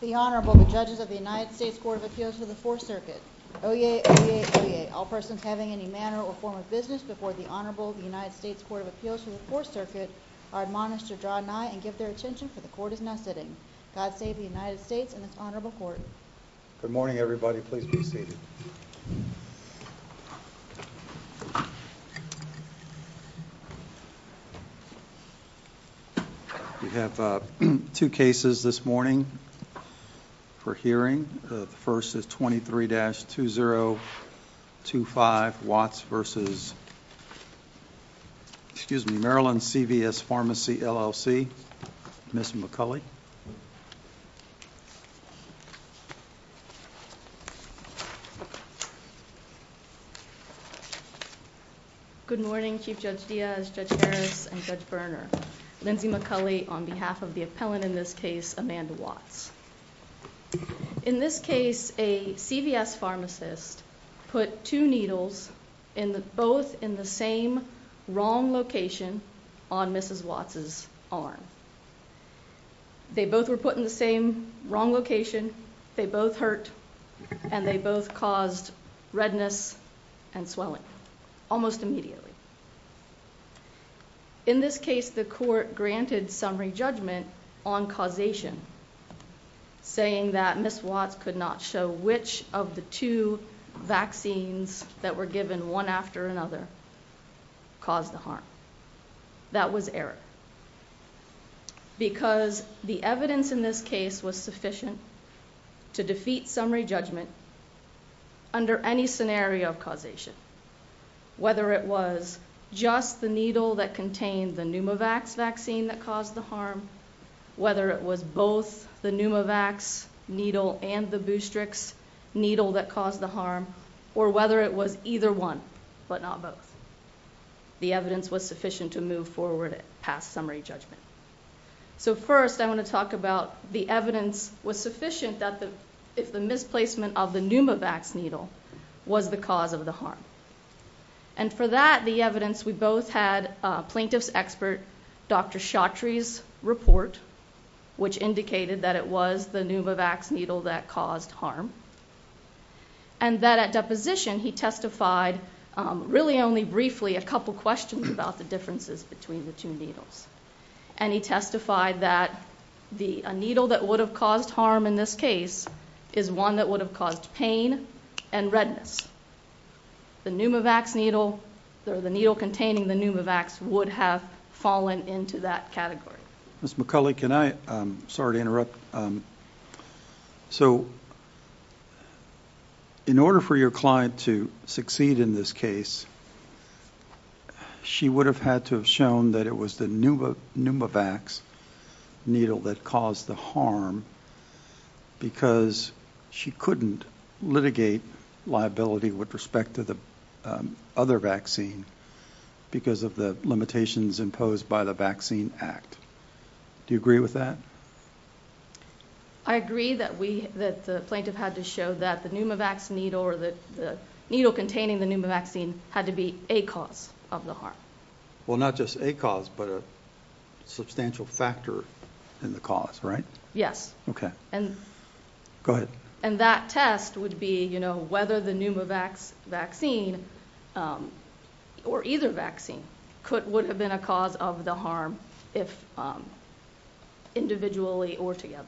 The Honorable, the Judges of the United States Court of Appeals for the 4th Circuit. Oyez! Oyez! Oyez! All persons having any manner or form of business before the Honorable of the United States Court of Appeals for the 4th Circuit are admonished to draw nigh and give their attention, for the Court is now sitting. God save the United States and its Honorable Court. Good morning, everybody. Please be seated. We have two cases this morning for hearing. The first is 23-2025 Watts v. Maryland CVS Pharmacy, LLC. Ms. McCulley. Good morning, Chief Judge Diaz, Judge Harris, and Judge Berner. Lindsay McCulley on behalf of the appellant in this case, Amanda Watts. In this case, a CVS pharmacist put two needles both in the same wrong location on Mrs. Watts' arm. They both were put in the same wrong location, they both hurt, and they both caused redness and swelling almost immediately. In this case, the Court granted summary judgment on causation, saying that Ms. Watts could not show which of the two vaccines that were given one after another caused the harm. That was error, because the evidence in this case was sufficient to defeat summary judgment under any scenario of causation, whether it was just the needle that contained the Pneumovax vaccine that caused the harm, whether it was both the Pneumovax needle and the Boostrix needle that caused the harm, or whether it was either one, but not both. The evidence was sufficient to move forward past summary judgment. So first, I want to talk about the evidence was sufficient if the misplacement of the Pneumovax needle was the cause of the harm. And for that, the evidence, we both had plaintiff's expert Dr. Chaudhry's report, which indicated that it was the Pneumovax needle that caused harm, and that at deposition he testified really only briefly a couple questions about the differences between the two needles. And he testified that a needle that would have caused harm in this case is one that would have caused pain and redness. The Pneumovax needle or the needle containing the Pneumovax would have fallen into that category. Ms. McCulley, can I? Sorry to interrupt. So in order for your client to succeed in this case, she would have had to have shown that it was the Pneumovax needle that caused the harm because she couldn't litigate liability with respect to the other vaccine because of the limitations imposed by the Vaccine Act. Do you agree with that? I agree that we that the plaintiff had to show that the Pneumovax needle or the needle containing the Pneumovax had to be a cause of the harm. Well, not just a cause, but a substantial factor in the cause, right? Yes. Okay. Go ahead. And that test would be whether the Pneumovax vaccine or either vaccine would have been a cause of the harm individually or together.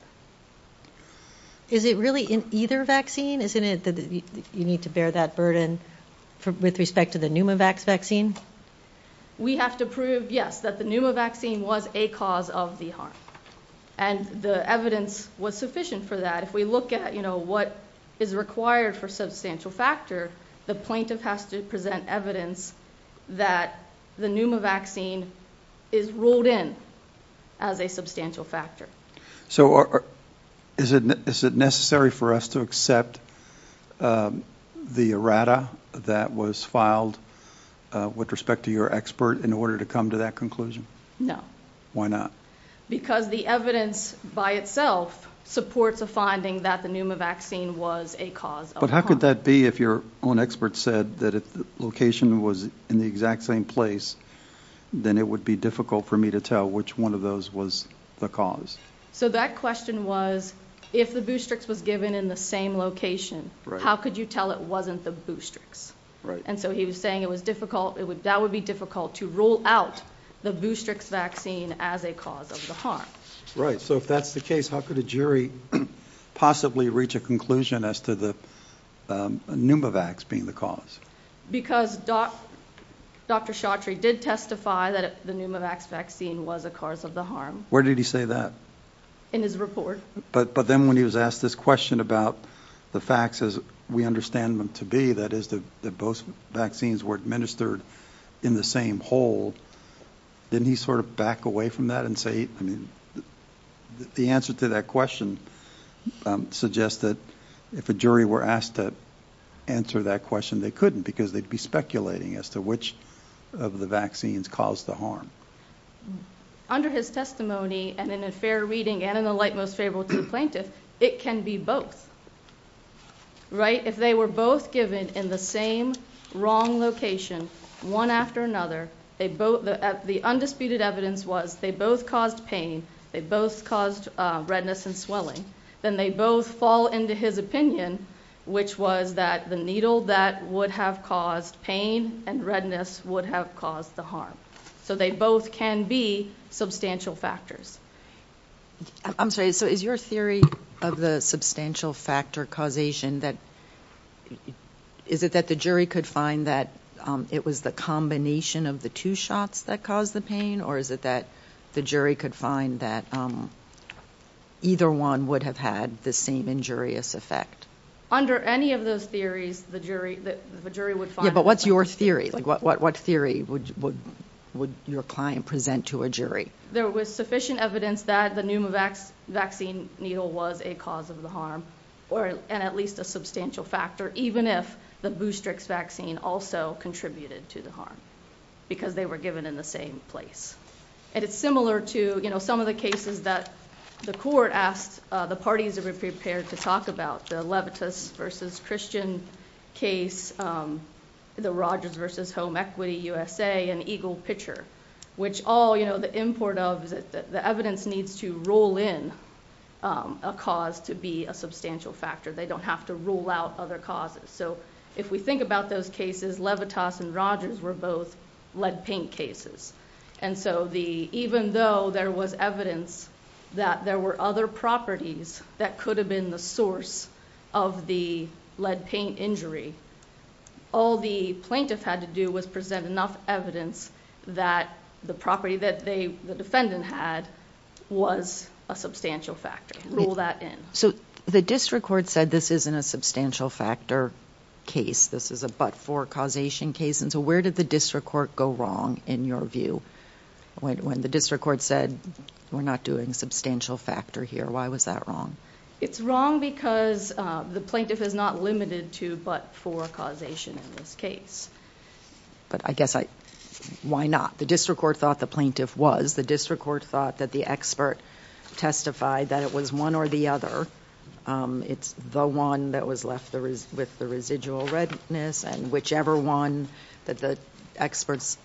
Is it really in either vaccine? Isn't it that you need to bear that burden with respect to the Pneumovax vaccine? We have to prove, yes, that the Pneumovax vaccine was a cause of the harm. And the evidence was sufficient for that. If we look at what is required for substantial factor, the plaintiff has to present evidence that the Pneumovax vaccine is ruled in as a substantial factor. So is it necessary for us to accept the errata that was filed with respect to your expert in order to come to that conclusion? No. Why not? Because the evidence by itself supports a finding that the Pneumovax vaccine was a cause of the harm. But how could that be if your own expert said that if the location was in the exact same place, then it would be difficult for me to tell which one of those was the cause? So that question was, if the Boostrix was given in the same location, how could you tell it wasn't the Boostrix? And so he was saying that would be difficult to rule out the Boostrix vaccine as a cause of the harm. Right. So if that's the case, how could a jury possibly reach a conclusion as to the Pneumovax being the cause? Because Dr. Chaudhry did testify that the Pneumovax vaccine was a cause of the harm. Where did he say that? In his report. But then when he was asked this question about the facts as we understand them to be, that is, that both vaccines were administered in the same hole, didn't he sort of back away from that and say, I mean, the answer to that question suggests that if a jury were asked to answer that question, they couldn't because they'd be speculating as to which of the vaccines caused the harm. Under his testimony and in a fair reading and in the light most favorable to the plaintiff, it can be both. Right. If they were both given in the same wrong location, one after another, the undisputed evidence was they both caused pain, they both caused redness and swelling, then they both fall into his opinion, which was that the needle that would have caused pain and redness would have caused the harm. So they both can be substantial factors. I'm sorry. So is your theory of the substantial factor causation that, is it that the jury could find that it was the combination of the two shots that caused the pain? Or is it that the jury could find that either one would have had the same injurious effect? Under any of those theories, the jury, the jury would find. But what's your theory? Like what, what, what theory would, would, would your client present to a jury? There was sufficient evidence that the Pneumovax vaccine needle was a cause of the harm or at least a substantial factor, even if the Boostrix vaccine also contributed to the harm because they were given in the same place. And it's similar to, you know, some of the cases that the court asked, the parties are prepared to talk about the Levitas versus Christian case, the Rogers versus Home Equity USA and Eagle Pitcher, which all, you know, the import of the evidence needs to roll in a cause to be a substantial factor. They don't have to rule out other causes. So if we think about those cases, Levitas and Rogers were both lead paint cases. And so the, even though there was evidence that there were other properties that could have been the source of the lead paint injury, all the plaintiff had to do was present enough evidence that the property that they, the defendant had was a substantial factor. Roll that in. So the district court said this isn't a substantial factor case. This is a but for causation case. And so where did the district court go wrong? In your view, when the district court said we're not doing substantial factor here, why was that wrong? It's wrong because the plaintiff is not limited to but for causation in this case. But I guess I why not? The district court thought the plaintiff was the district court thought that the expert testified that it was one or the other. It's the one that was left there is with the residual redness and whichever one that the experts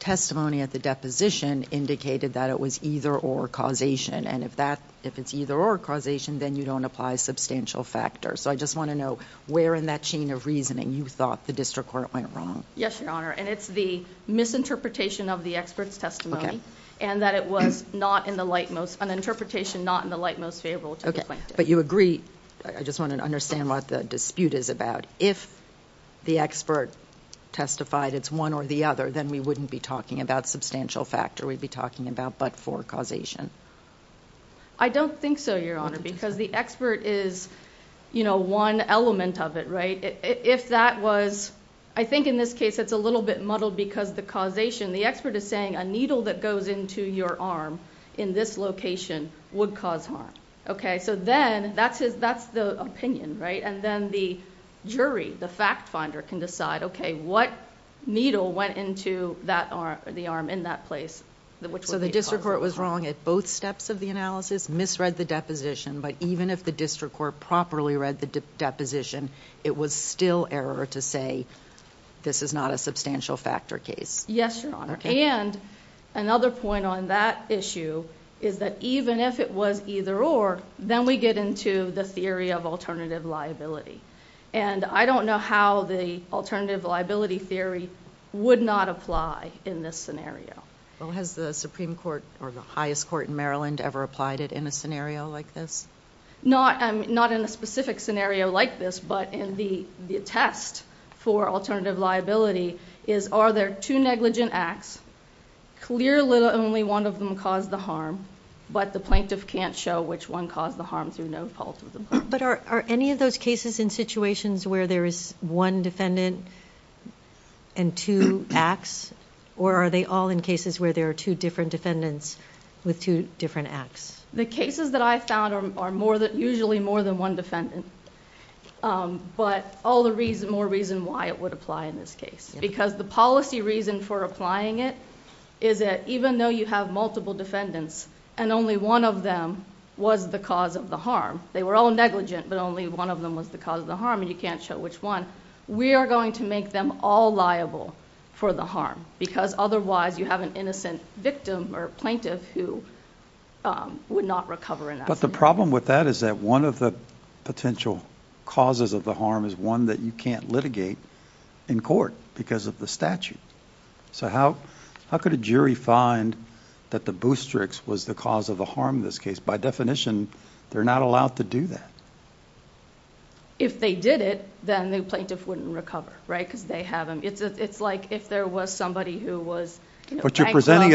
testimony at the deposition indicated that it was either or causation. And if that if it's either or causation, then you don't apply substantial factor. So I just want to know where in that chain of reasoning you thought the district court went wrong? Yes, Your Honor. And it's the misinterpretation of the experts testimony and that it was not in the light, most an interpretation, not in the light, most favorable. OK, but you agree. I just want to understand what the dispute is about. If the expert testified it's one or the other, then we wouldn't be talking about substantial factor. We'd be talking about but for causation. I don't think so, Your Honor, because the expert is, you know, one element of it. Right. If that was I think in this case, it's a little bit muddled because the causation, the expert is saying a needle that goes into your arm in this location would cause harm. OK, so then that's that's the opinion. Right. And then the jury, the fact finder can decide, OK, what needle went into that or the arm in that place? So the district court was wrong at both steps of the analysis, misread the deposition. But even if the district court properly read the deposition, it was still error to say this is not a substantial factor case. Yes, Your Honor. And another point on that issue is that even if it was either or, then we get into the theory of alternative liability. And I don't know how the alternative liability theory would not apply in this scenario. Well, has the Supreme Court or the highest court in Maryland ever applied it in a scenario like this? Not in a specific scenario like this, but in the test for alternative liability, is are there two negligent acts? Clearly only one of them caused the harm, but the plaintiff can't show which one caused the harm through no fault of the plaintiff. But are any of those cases in situations where there is one defendant and two acts? Or are they all in cases where there are two different defendants with two different acts? The cases that I found are usually more than one defendant, but all the more reason why it would apply in this case. Because the policy reason for applying it is that even though you have multiple defendants and only one of them was the cause of the harm. They were all negligent, but only one of them was the cause of the harm and you can't show which one. We are going to make them all liable for the harm. Because otherwise you have an innocent victim or plaintiff who would not recover in that scenario. But the problem with that is that one of the potential causes of the harm is one that you can't litigate in court because of the statute. So how could a jury find that the Boosterix was the cause of the harm in this case? By definition, they're not allowed to do that. If they did it, then the plaintiff wouldn't recover, right? Because they haven't. It's like if there was somebody who was... But you're presenting...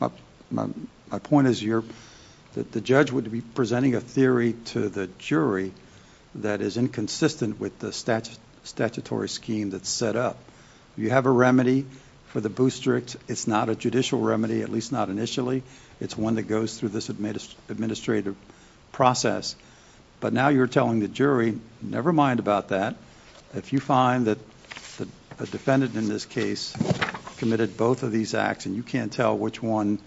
my point is that the judge would be presenting a theory to the jury that is inconsistent with the statutory scheme that's set up. You have a remedy for the Boosterix. It's not a judicial remedy, at least not initially. It's one that goes through this administrative process. But now you're telling the jury, never mind about that. If you find that a defendant in this case committed both of these acts and you can't tell which one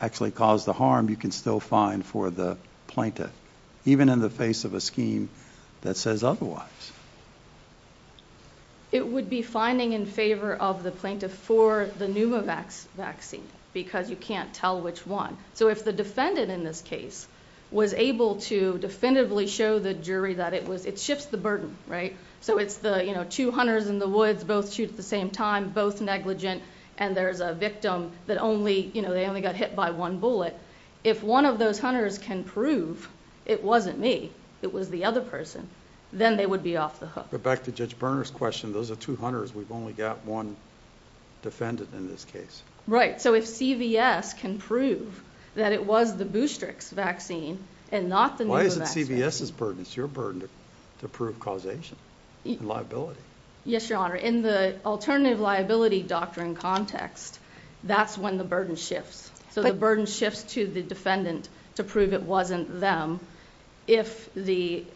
actually caused the harm, you can still find for the plaintiff, even in the face of a scheme that says otherwise. It would be finding in favor of the plaintiff for the Pneumovax vaccine because you can't tell which one. If the defendant in this case was able to definitively show the jury that it was... it shifts the burden, right? It's the two hunters in the woods, both shoot at the same time, both negligent, and there's a victim that they only got hit by one bullet. If one of those hunters can prove it wasn't me, it was the other person, then they would be off the hook. Back to Judge Berner's question, those are two hunters. We've only got one defendant in this case. Right. So if CVS can prove that it was the Boostrix vaccine and not the Pneumovax vaccine... Why is it CVS's burden? It's your burden to prove causation and liability. Yes, Your Honor. In the alternative liability doctrine context, that's when the burden shifts. So the burden shifts to the defendant to prove it wasn't them if there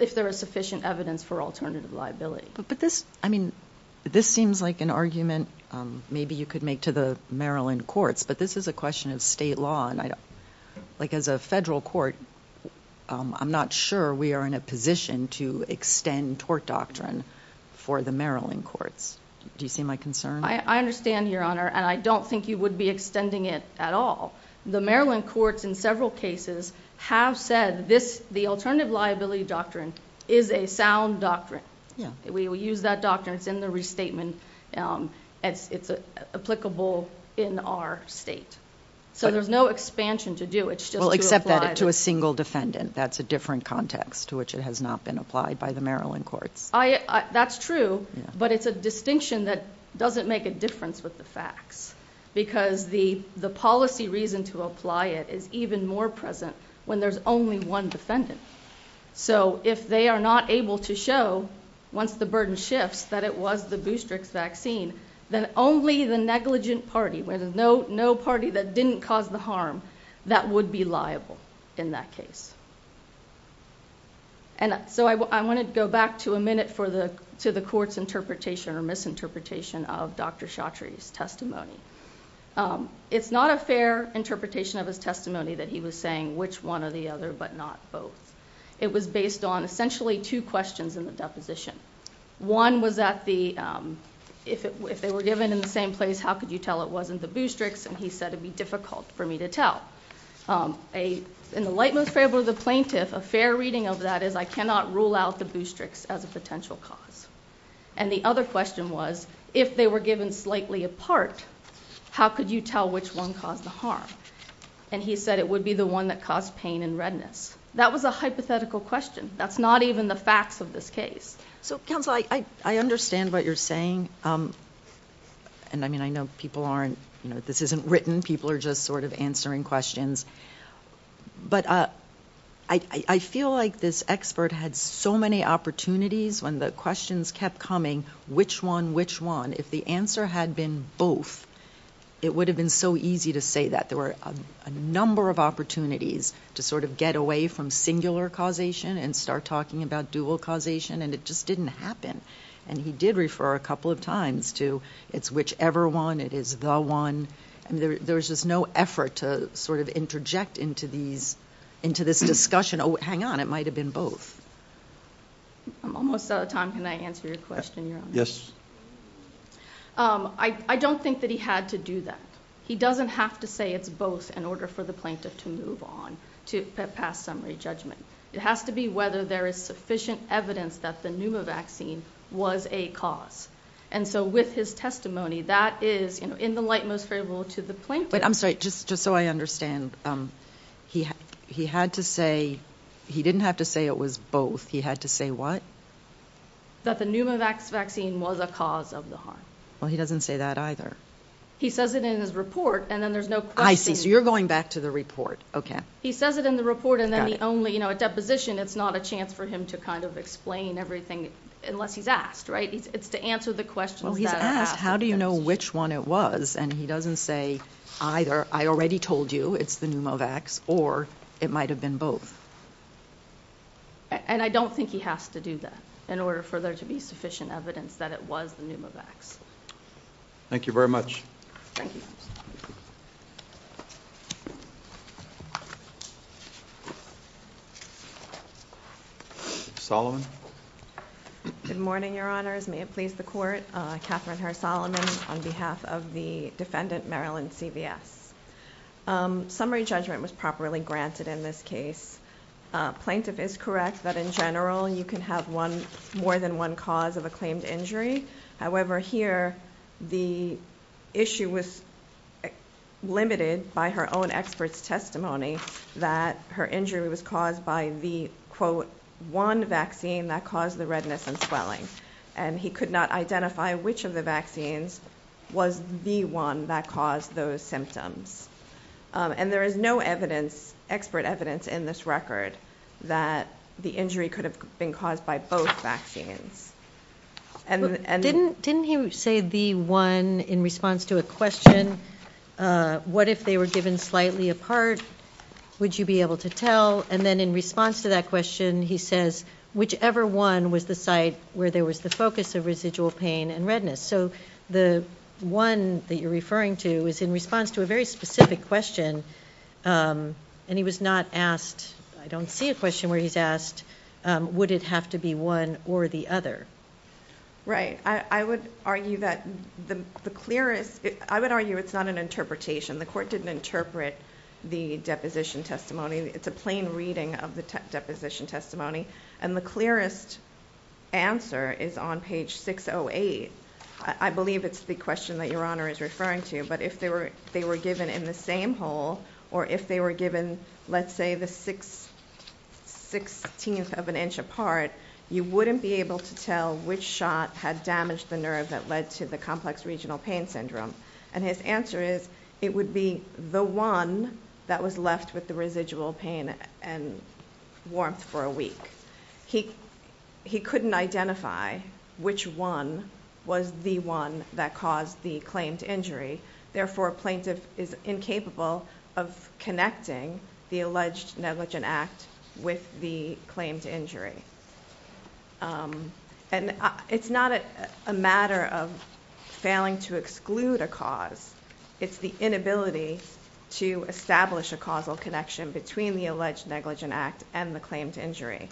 is sufficient evidence for alternative liability. But this... I mean, this seems like an argument maybe you could make to the Maryland courts, but this is a question of state law. Like as a federal court, I'm not sure we are in a position to extend tort doctrine for the Maryland courts. Do you see my concern? I understand, Your Honor, and I don't think you would be extending it at all. The Maryland courts in several cases have said this... the alternative liability doctrine is a sound doctrine. Yeah. We use that doctrine. It's in the restatement. It's applicable in our state. So there's no expansion to do. It's just to apply... Well, except that to a single defendant. That's a different context to which it has not been applied by the Maryland courts. That's true, but it's a distinction that doesn't make a difference with the facts. Because the policy reason to apply it is even more present when there's only one defendant. So if they are not able to show, once the burden shifts, that it was the Boostrix vaccine, then only the negligent party, where there's no party that didn't cause the harm, that would be liable in that case. And so I want to go back to a minute to the court's interpretation or misinterpretation of Dr. Chaudhry's testimony. It's not a fair interpretation of his testimony that he was saying which one or the other, but not both. It was based on essentially two questions in the deposition. One was at the... if they were given in the same place, how could you tell it wasn't the Boostrix? And he said it would be difficult for me to tell. In the lightmost fable of the plaintiff, a fair reading of that is I cannot rule out the Boostrix as a potential cause. And the other question was if they were given slightly apart, how could you tell which one caused the harm? And he said it would be the one that caused pain and redness. That was a hypothetical question. That's not even the facts of this case. So, counsel, I understand what you're saying. And, I mean, I know people aren't... you know, this isn't written. People are just sort of answering questions. But I feel like this expert had so many opportunities when the questions kept coming, which one, which one. If the answer had been both, it would have been so easy to say that. There were a number of opportunities to sort of get away from singular causation and start talking about dual causation, and it just didn't happen. And he did refer a couple of times to it's whichever one. It is the one. There was just no effort to sort of interject into this discussion. Oh, hang on. It might have been both. I'm almost out of time. Can I answer your question, Your Honor? Yes. I don't think that he had to do that. He doesn't have to say it's both in order for the plaintiff to move on to pass summary judgment. It has to be whether there is sufficient evidence that the Pneuma vaccine was a cause. And so with his testimony, that is in the light most favorable to the plaintiff. I'm sorry. Just so I understand, he had to say he didn't have to say it was both. He had to say what? That the Pneuma vaccine was a cause of the harm. Well, he doesn't say that either. He says it in his report, and then there's no question. I see. So you're going back to the report. Okay. He says it in the report, and then the only deposition, it's not a chance for him to kind of explain everything unless he's asked. Right? It's to answer the questions that are asked. Well, he's asked, how do you know which one it was? And he doesn't say either, I already told you it's the Pneuma vaccine, or it might have been both. And I don't think he has to do that in order for there to be sufficient evidence that it was the Pneuma vaccine. Thank you very much. Thank you. Solomon. Good morning, Your Honors. May it please the Court. Katherine Herr-Solomon on behalf of the defendant, Marilyn CVS. Summary judgment was properly granted in this case. Plaintiff is correct that in general, you can have more than one cause of a claimed injury. However, here the issue was limited by her own expert's testimony that her injury was caused by the, quote, one vaccine that caused the redness and swelling. And he could not identify which of the vaccines was the one that caused those symptoms. And there is no evidence, expert evidence, in this record that the injury could have been caused by both vaccines. Didn't he say the one in response to a question, what if they were given slightly apart, would you be able to tell? And then in response to that question, he says, whichever one was the site where there was the focus of residual pain and redness. So the one that you're referring to is in response to a very specific question. And he was not asked, I don't see a question where he's asked, would it have to be one or the other? Right. I would argue that the clearest, I would argue it's not an interpretation. The Court didn't interpret the deposition testimony. It's a plain reading of the deposition testimony. And the clearest answer is on page 608. I believe it's the question that Your Honor is referring to. But if they were given in the same hole, or if they were given, let's say, the sixteenth of an inch apart, you wouldn't be able to tell which shot had damaged the nerve that led to the complex regional pain syndrome. And his answer is, it would be the one that was left with the residual pain and warmth for a week. He couldn't identify which one was the one that caused the claimed injury. Therefore, a plaintiff is incapable of connecting the alleged negligent act with the claimed injury. And it's not a matter of failing to exclude a cause. It's the inability to establish a causal connection between the alleged negligent act and the claimed injury.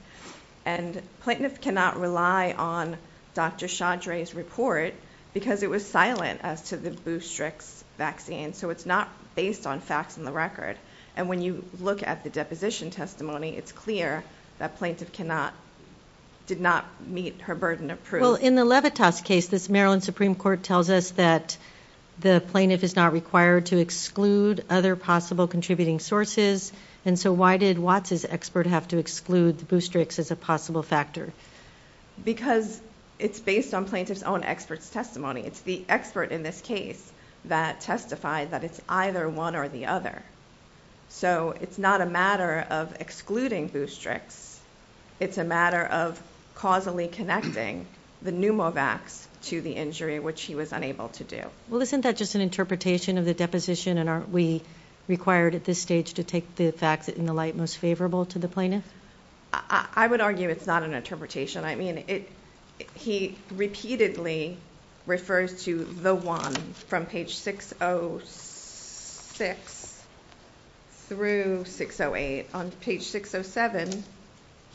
And plaintiff cannot rely on Dr. Chaudry's report because it was silent as to the Boostrix vaccine. So it's not based on facts in the record. And when you look at the deposition testimony, it's clear that plaintiff did not meet her burden of proof. Well, in the Levitas case, this Maryland Supreme Court tells us that the plaintiff is not required to exclude other possible contributing sources. And so why did Watts' expert have to exclude the Boostrix as a possible factor? Because it's based on plaintiff's own expert's testimony. It's the expert in this case that testified that it's either one or the other. So it's not a matter of excluding Boostrix. It's a matter of causally connecting the pneumovax to the injury, which he was unable to do. Well, isn't that just an interpretation of the deposition? And aren't we required at this stage to take the facts in the light most favorable to the plaintiff? I would argue it's not an interpretation. I mean, he repeatedly refers to the one from page 606 through 608. And on page 607,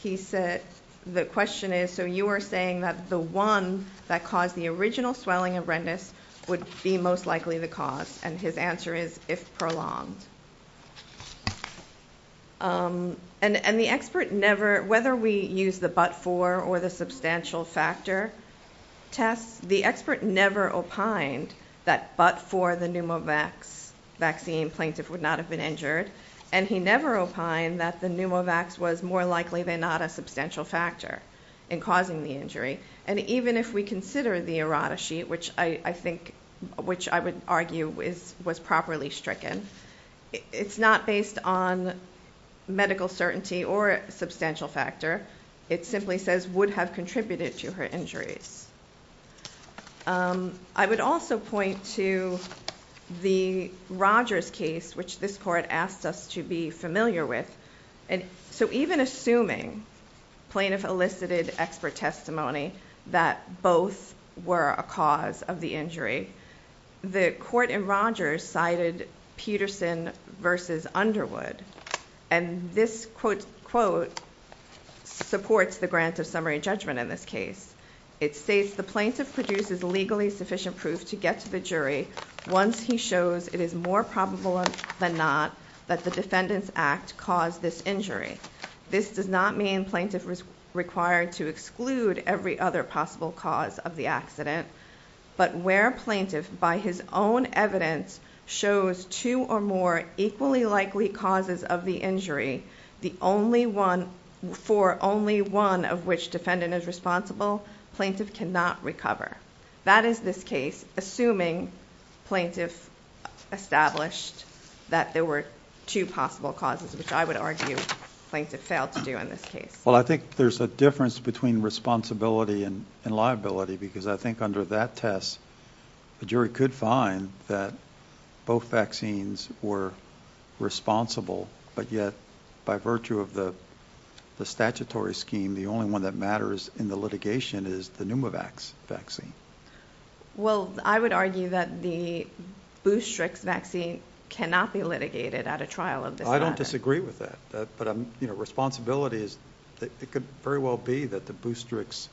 he said, the question is, so you are saying that the one that caused the original swelling and redness would be most likely the cause, and his answer is, if prolonged. And the expert never, whether we use the but-for or the substantial factor test, the expert never opined that but-for the pneumovax vaccine plaintiff would not have been injured. And he never opined that the pneumovax was more likely than not a substantial factor in causing the injury. And even if we consider the errata sheet, which I think, which I would argue was properly stricken, it's not based on medical certainty or substantial factor. It simply says would have contributed to her injuries. I would also point to the Rogers case, which this court asked us to be familiar with. And so even assuming plaintiff elicited expert testimony that both were a cause of the injury, the court in Rogers cited Peterson versus Underwood. And this quote supports the grant of summary judgment in this case. It states, the plaintiff produces legally sufficient proof to get to the jury once he shows it is more probable than not that the defendant's act caused this injury. This does not mean plaintiff was required to exclude every other possible cause of the accident. But where plaintiff, by his own evidence, shows two or more equally likely causes of the injury, the only one, for only one of which defendant is responsible, plaintiff cannot recover. That is this case, assuming plaintiff established that there were two possible causes, which I would argue plaintiff failed to do in this case. Well, I think there's a difference between responsibility and liability, because I think under that test, the jury could find that both vaccines were responsible, but yet by virtue of the statutory scheme, the only one that matters in the litigation is the Pneumovax vaccine. Well, I would argue that the Boostrix vaccine cannot be litigated at a trial of this matter. I don't disagree with that. But, you know, responsibility is that it could very well be that the Boostrix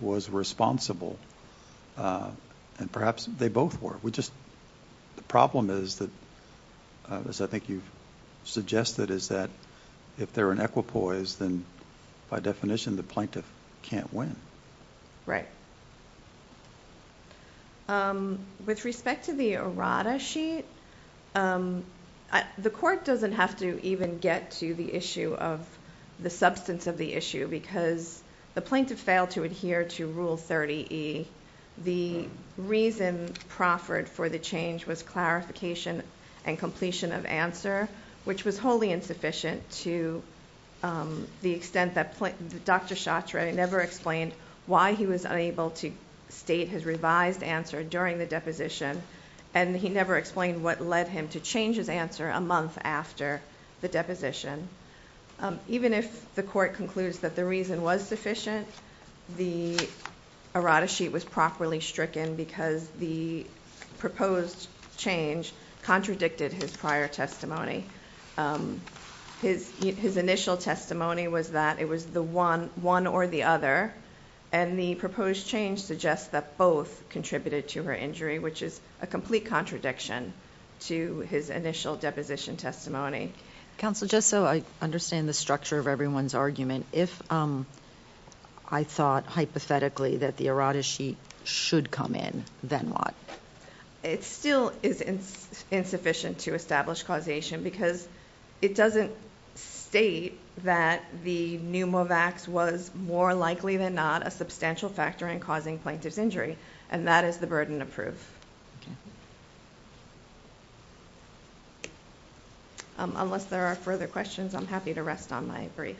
was responsible, and perhaps they both were. The problem is that, as I think you've suggested, is that if they're in equipoise, then by definition the plaintiff can't win. Right. With respect to the errata sheet, the court doesn't have to even get to the issue of the substance of the issue, because the plaintiff failed to adhere to Rule 30E. The reason proffered for the change was clarification and completion of answer, which was wholly insufficient to the extent that Dr. Chatre never explained why he was unable to state his revised answer during the deposition, and he never explained what led him to change his answer a month after the deposition. Even if the court concludes that the reason was sufficient, the errata sheet was properly stricken because the proposed change contradicted his prior testimony. His initial testimony was that it was the one or the other, and the proposed change suggests that both contributed to her injury, which is a complete contradiction to his initial deposition testimony. Counsel, just so I understand the structure of everyone's argument, if I thought hypothetically that the errata sheet should come in, then what? It still is insufficient to establish causation, because it doesn't state that the pneumovax was more likely than not a substantial factor in causing plaintiff's injury, and that is the burden of proof. Okay. Unless there are further questions, I'm happy to rest on my brief.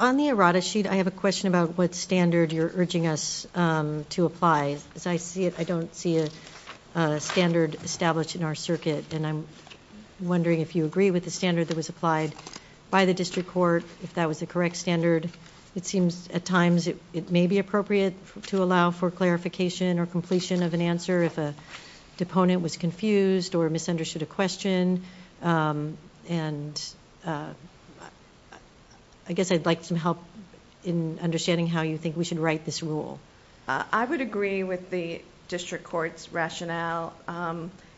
On the errata sheet, I have a question about what standard you're urging us to apply. As I see it, I don't see a standard established in our circuit, and I'm wondering if you agree with the standard that was applied by the district court, if that was the correct standard. It seems at times it may be appropriate to allow for clarification or completion of an answer if a deponent was confused or misunderstood a question, and I guess I'd like some help in understanding how you think we should write this rule. I would agree with the district court's rationale.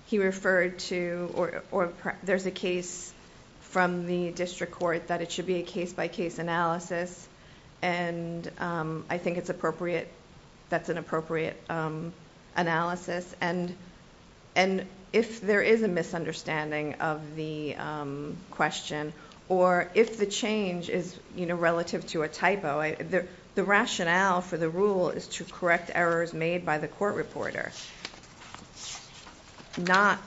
He referred to... or there's a case from the district court that it should be a case-by-case analysis, and I think that's an appropriate analysis, and if there is a misunderstanding of the question or if the change is relative to a typo, the rationale for the rule is to correct errors made by the court reporter, not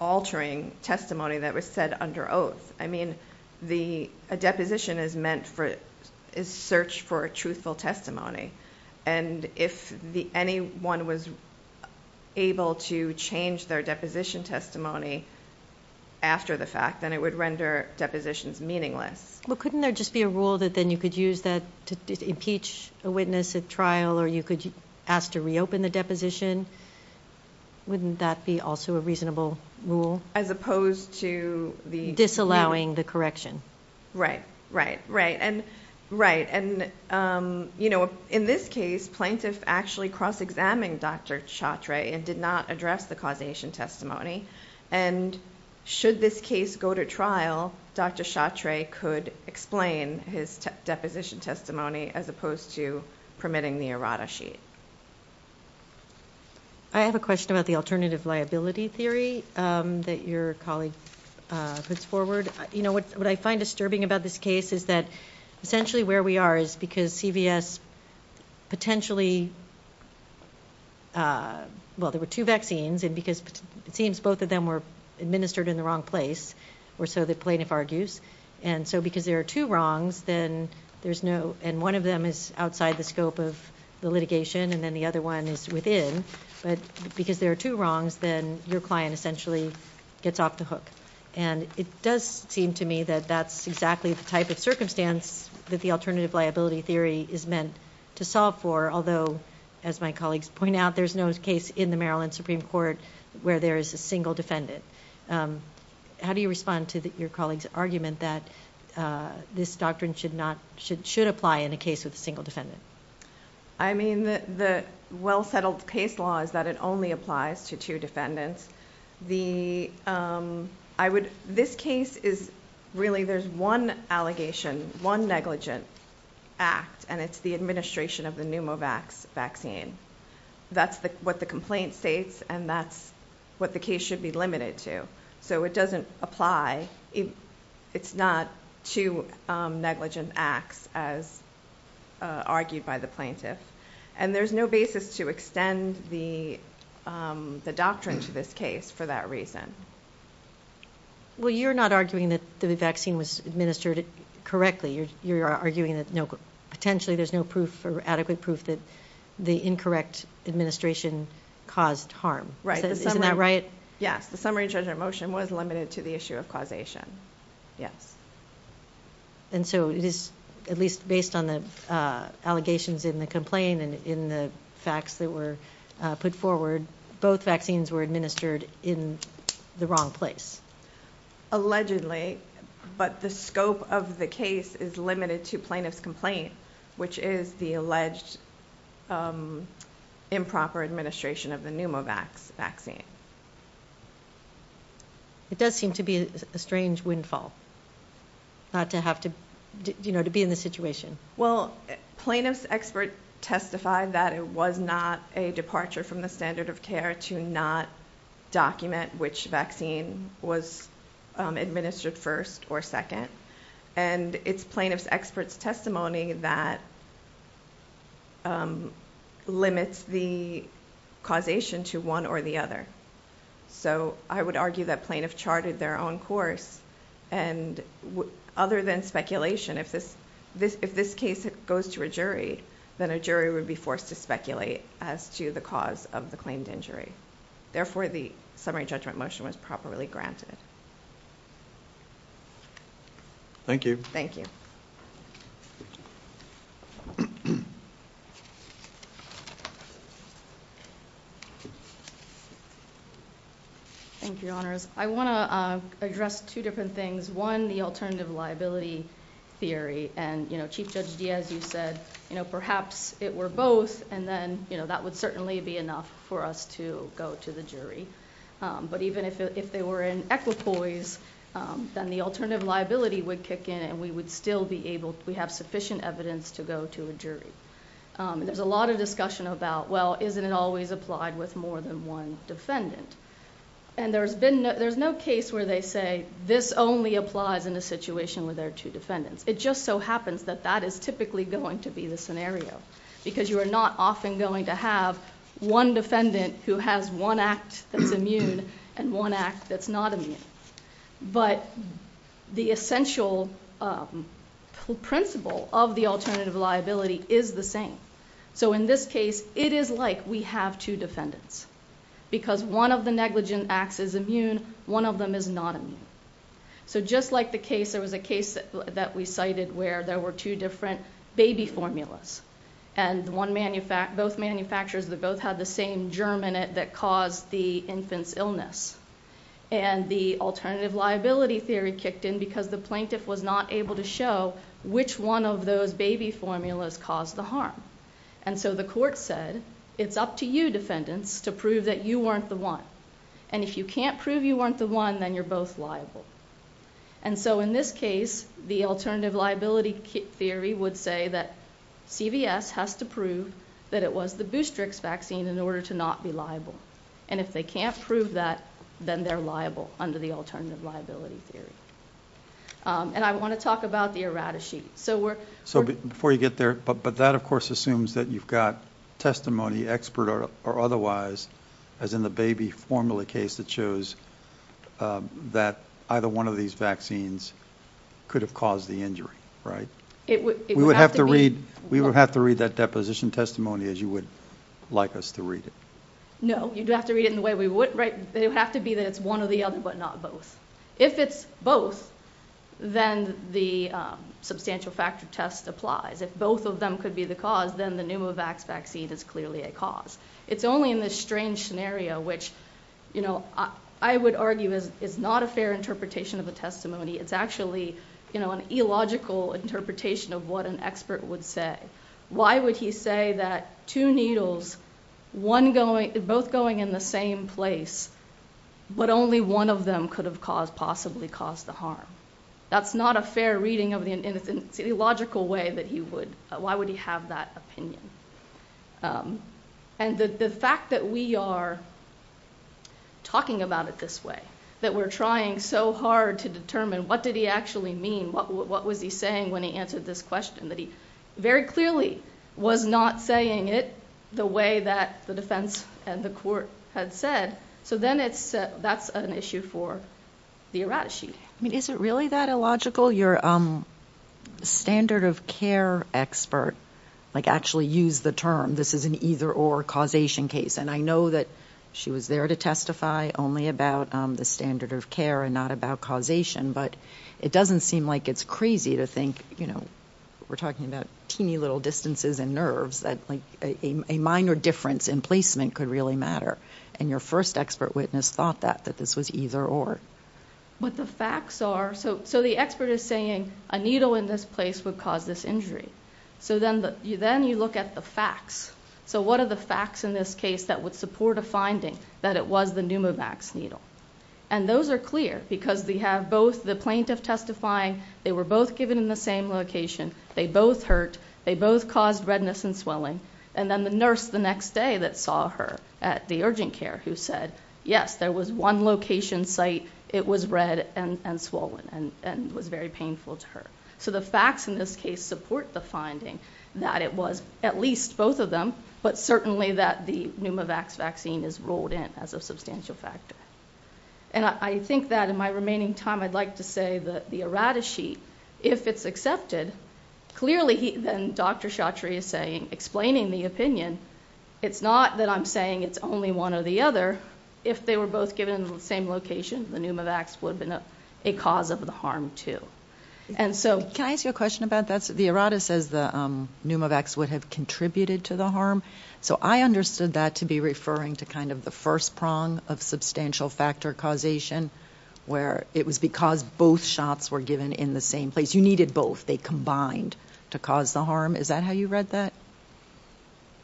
altering testimony that was said under oath. A deposition is searched for a truthful testimony, and if anyone was able to change their deposition testimony after the fact, then it would render depositions meaningless. Couldn't there just be a rule that then you could use that to impeach a witness at trial or you could ask to reopen the deposition? Wouldn't that be also a reasonable rule? As opposed to the... Disallowing the correction. Right, right, right. In this case, plaintiff actually cross-examined Dr. Chatre and did not address the causation testimony, and should this case go to trial, Dr. Chatre could explain his deposition testimony as opposed to permitting the errata sheet. I have a question about the alternative liability theory that your colleague puts forward. You know, what I find disturbing about this case is that essentially where we are is because CVS potentially... Well, there were two vaccines, and because it seems both of them were administered in the wrong place, or so the plaintiff argues, and so because there are two wrongs, then there's no... and then the other one is within, but because there are two wrongs, then your client essentially gets off the hook, and it does seem to me that that's exactly the type of circumstance that the alternative liability theory is meant to solve for, although, as my colleagues point out, there's no case in the Maryland Supreme Court where there is a single defendant. How do you respond to your colleague's argument that this doctrine should apply in a case with a single defendant? I mean, the well-settled case law is that it only applies to two defendants. This case is really... there's one allegation, one negligent act, and it's the administration of the Pneumovax vaccine. That's what the complaint states, and that's what the case should be limited to, so it doesn't apply. It's not two negligent acts as argued by the plaintiff, and there's no basis to extend the doctrine to this case for that reason. Well, you're not arguing that the vaccine was administered correctly. You're arguing that potentially there's no proof or adequate proof that the incorrect administration caused harm. Right. Isn't that right? Yes. The summary judgment motion was limited to the issue of causation. Yes. And so it is, at least based on the allegations in the complaint and in the facts that were put forward, both vaccines were administered in the wrong place? Allegedly, but the scope of the case is limited to plaintiff's complaint, which is the alleged improper administration of the Pneumovax vaccine. It does seem to be a strange windfall not to have to be in this situation. Well, plaintiff's expert testified that it was not a departure from the standard of care to not document which vaccine was administered first or second, and it's plaintiff's expert's testimony that limits the causation to one or the other. So I would argue that plaintiff charted their own course, and other than speculation, if this case goes to a jury, then a jury would be forced to speculate as to the cause of the claimed injury. Therefore, the summary judgment motion was properly granted. Thank you. Thank you, Your Honors. I want to address two different things. One, the alternative liability theory, and Chief Judge Diaz, you said perhaps it were both, and then that would certainly be enough for us to go to the jury. Even if they were in equipoise, then the alternative liability would kick in, and we would still be able... we have sufficient evidence to go to a jury. There's a lot of discussion about, well, isn't it always applied with more than one defendant? There's no case where they say, this only applies in a situation where there are two defendants. It just so happens that that is typically going to be the scenario, because you are not often going to have one defendant who has one act that's immune, and one act that's not immune. But the essential principle of the alternative liability is the same. In this case, it is like we have two defendants, because one of the negligent acts is immune, one of them is not immune. Just like the case, there was a case that we cited where there were two different baby formulas, and both manufacturers both had the same germ in it that caused the infant's illness. The alternative liability theory kicked in because the plaintiff was not able to show which one of those baby formulas caused the harm. The court said, it's up to you, defendants, to prove that you weren't the one. If you can't prove you weren't the one, then you're both liable. In this case, the alternative liability theory would say that CVS has to prove that it was the Boostrix vaccine in order to not be liable. If they can't prove that, then they're liable under the alternative liability theory. I want to talk about the errata sheet. Before you get there, that assumes that you've got testimony, expert or otherwise, as in the baby formula case that shows that either one of these vaccines could have caused the injury. We would have to read that deposition testimony as you would like us to read it. No, you'd have to read it in the way we would. It would have to be that it's one or the other, but not both. If it's both, then the substantial factor test applies. If both of them could be the cause, then the Pneumovax vaccine is clearly a cause. It's only in this strange scenario, which I would argue is not a fair interpretation of the testimony. It's actually an illogical interpretation of what an expert would say. Why would he say that two needles, both going in the same place, but only one of them could have possibly caused the harm? That's not a fair reading in an illogical way. Why would he have that opinion? The fact that we are talking about it this way, that we're trying so hard to determine what did he actually mean, what was he saying when he answered this question, that he very clearly was not saying it the way that the defense and the court had said, so then that's an issue for the errata sheet. I mean, is it really that illogical? Your standard of care expert actually used the term this is an either-or causation case, and I know that she was there to testify only about the standard of care and not about causation, but it doesn't seem like it's crazy to think we're talking about teeny little distances and nerves that a minor difference in placement could really matter, and your first expert witness thought that, that this was either-or. What the facts are, so the expert is saying a needle in this place would cause this injury, so then you look at the facts. So what are the facts in this case that would support a finding that it was the Pneumovax needle? And those are clear because they have both the plaintiff testifying, they were both given in the same location, they both hurt, they both caused redness and swelling, and then the nurse the next day that saw her at the urgent care who said, yes, there was one location site, it was red and swollen and was very painful to her. So the facts in this case support the finding that it was at least both of them, but certainly that the Pneumovax vaccine is rolled in as a substantial factor. And I think that in my remaining time I'd like to say that the errata sheet, if it's accepted, clearly then Dr. Chaudhry is explaining the opinion. It's not that I'm saying it's only one or the other. If they were both given in the same location, the Pneumovax would have been a cause of the harm too. Can I ask you a question about that? The errata says the Pneumovax would have contributed to the harm. So I understood that to be referring to kind of the first prong of substantial factor causation where it was because both shots were given in the same place. You needed both. They combined to cause the harm. Is that how you read that?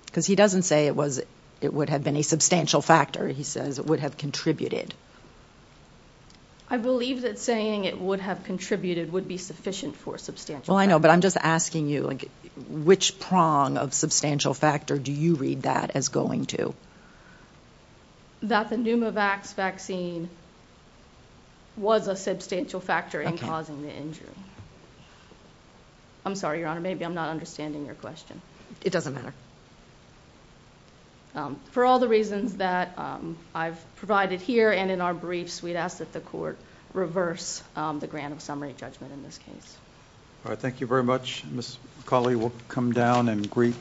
Because he doesn't say it would have been a substantial factor. He says it would have contributed. I believe that saying it would have contributed would be sufficient for substantial factor. Well, I know, but I'm just asking you, which prong of substantial factor do you read that as going to? That the Pneumovax vaccine was a substantial factor in causing the injury. I'm sorry, Your Honor, maybe I'm not understanding your question. It doesn't matter. For all the reasons that I've provided here and in our briefs, we'd ask that the court reverse the grant of summary judgment in this case. All right. Thank you very much. Ms. Cawley, we'll come down and greet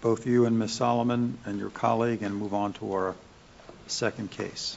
both you and Ms. Solomon and your colleague and move on to our second case.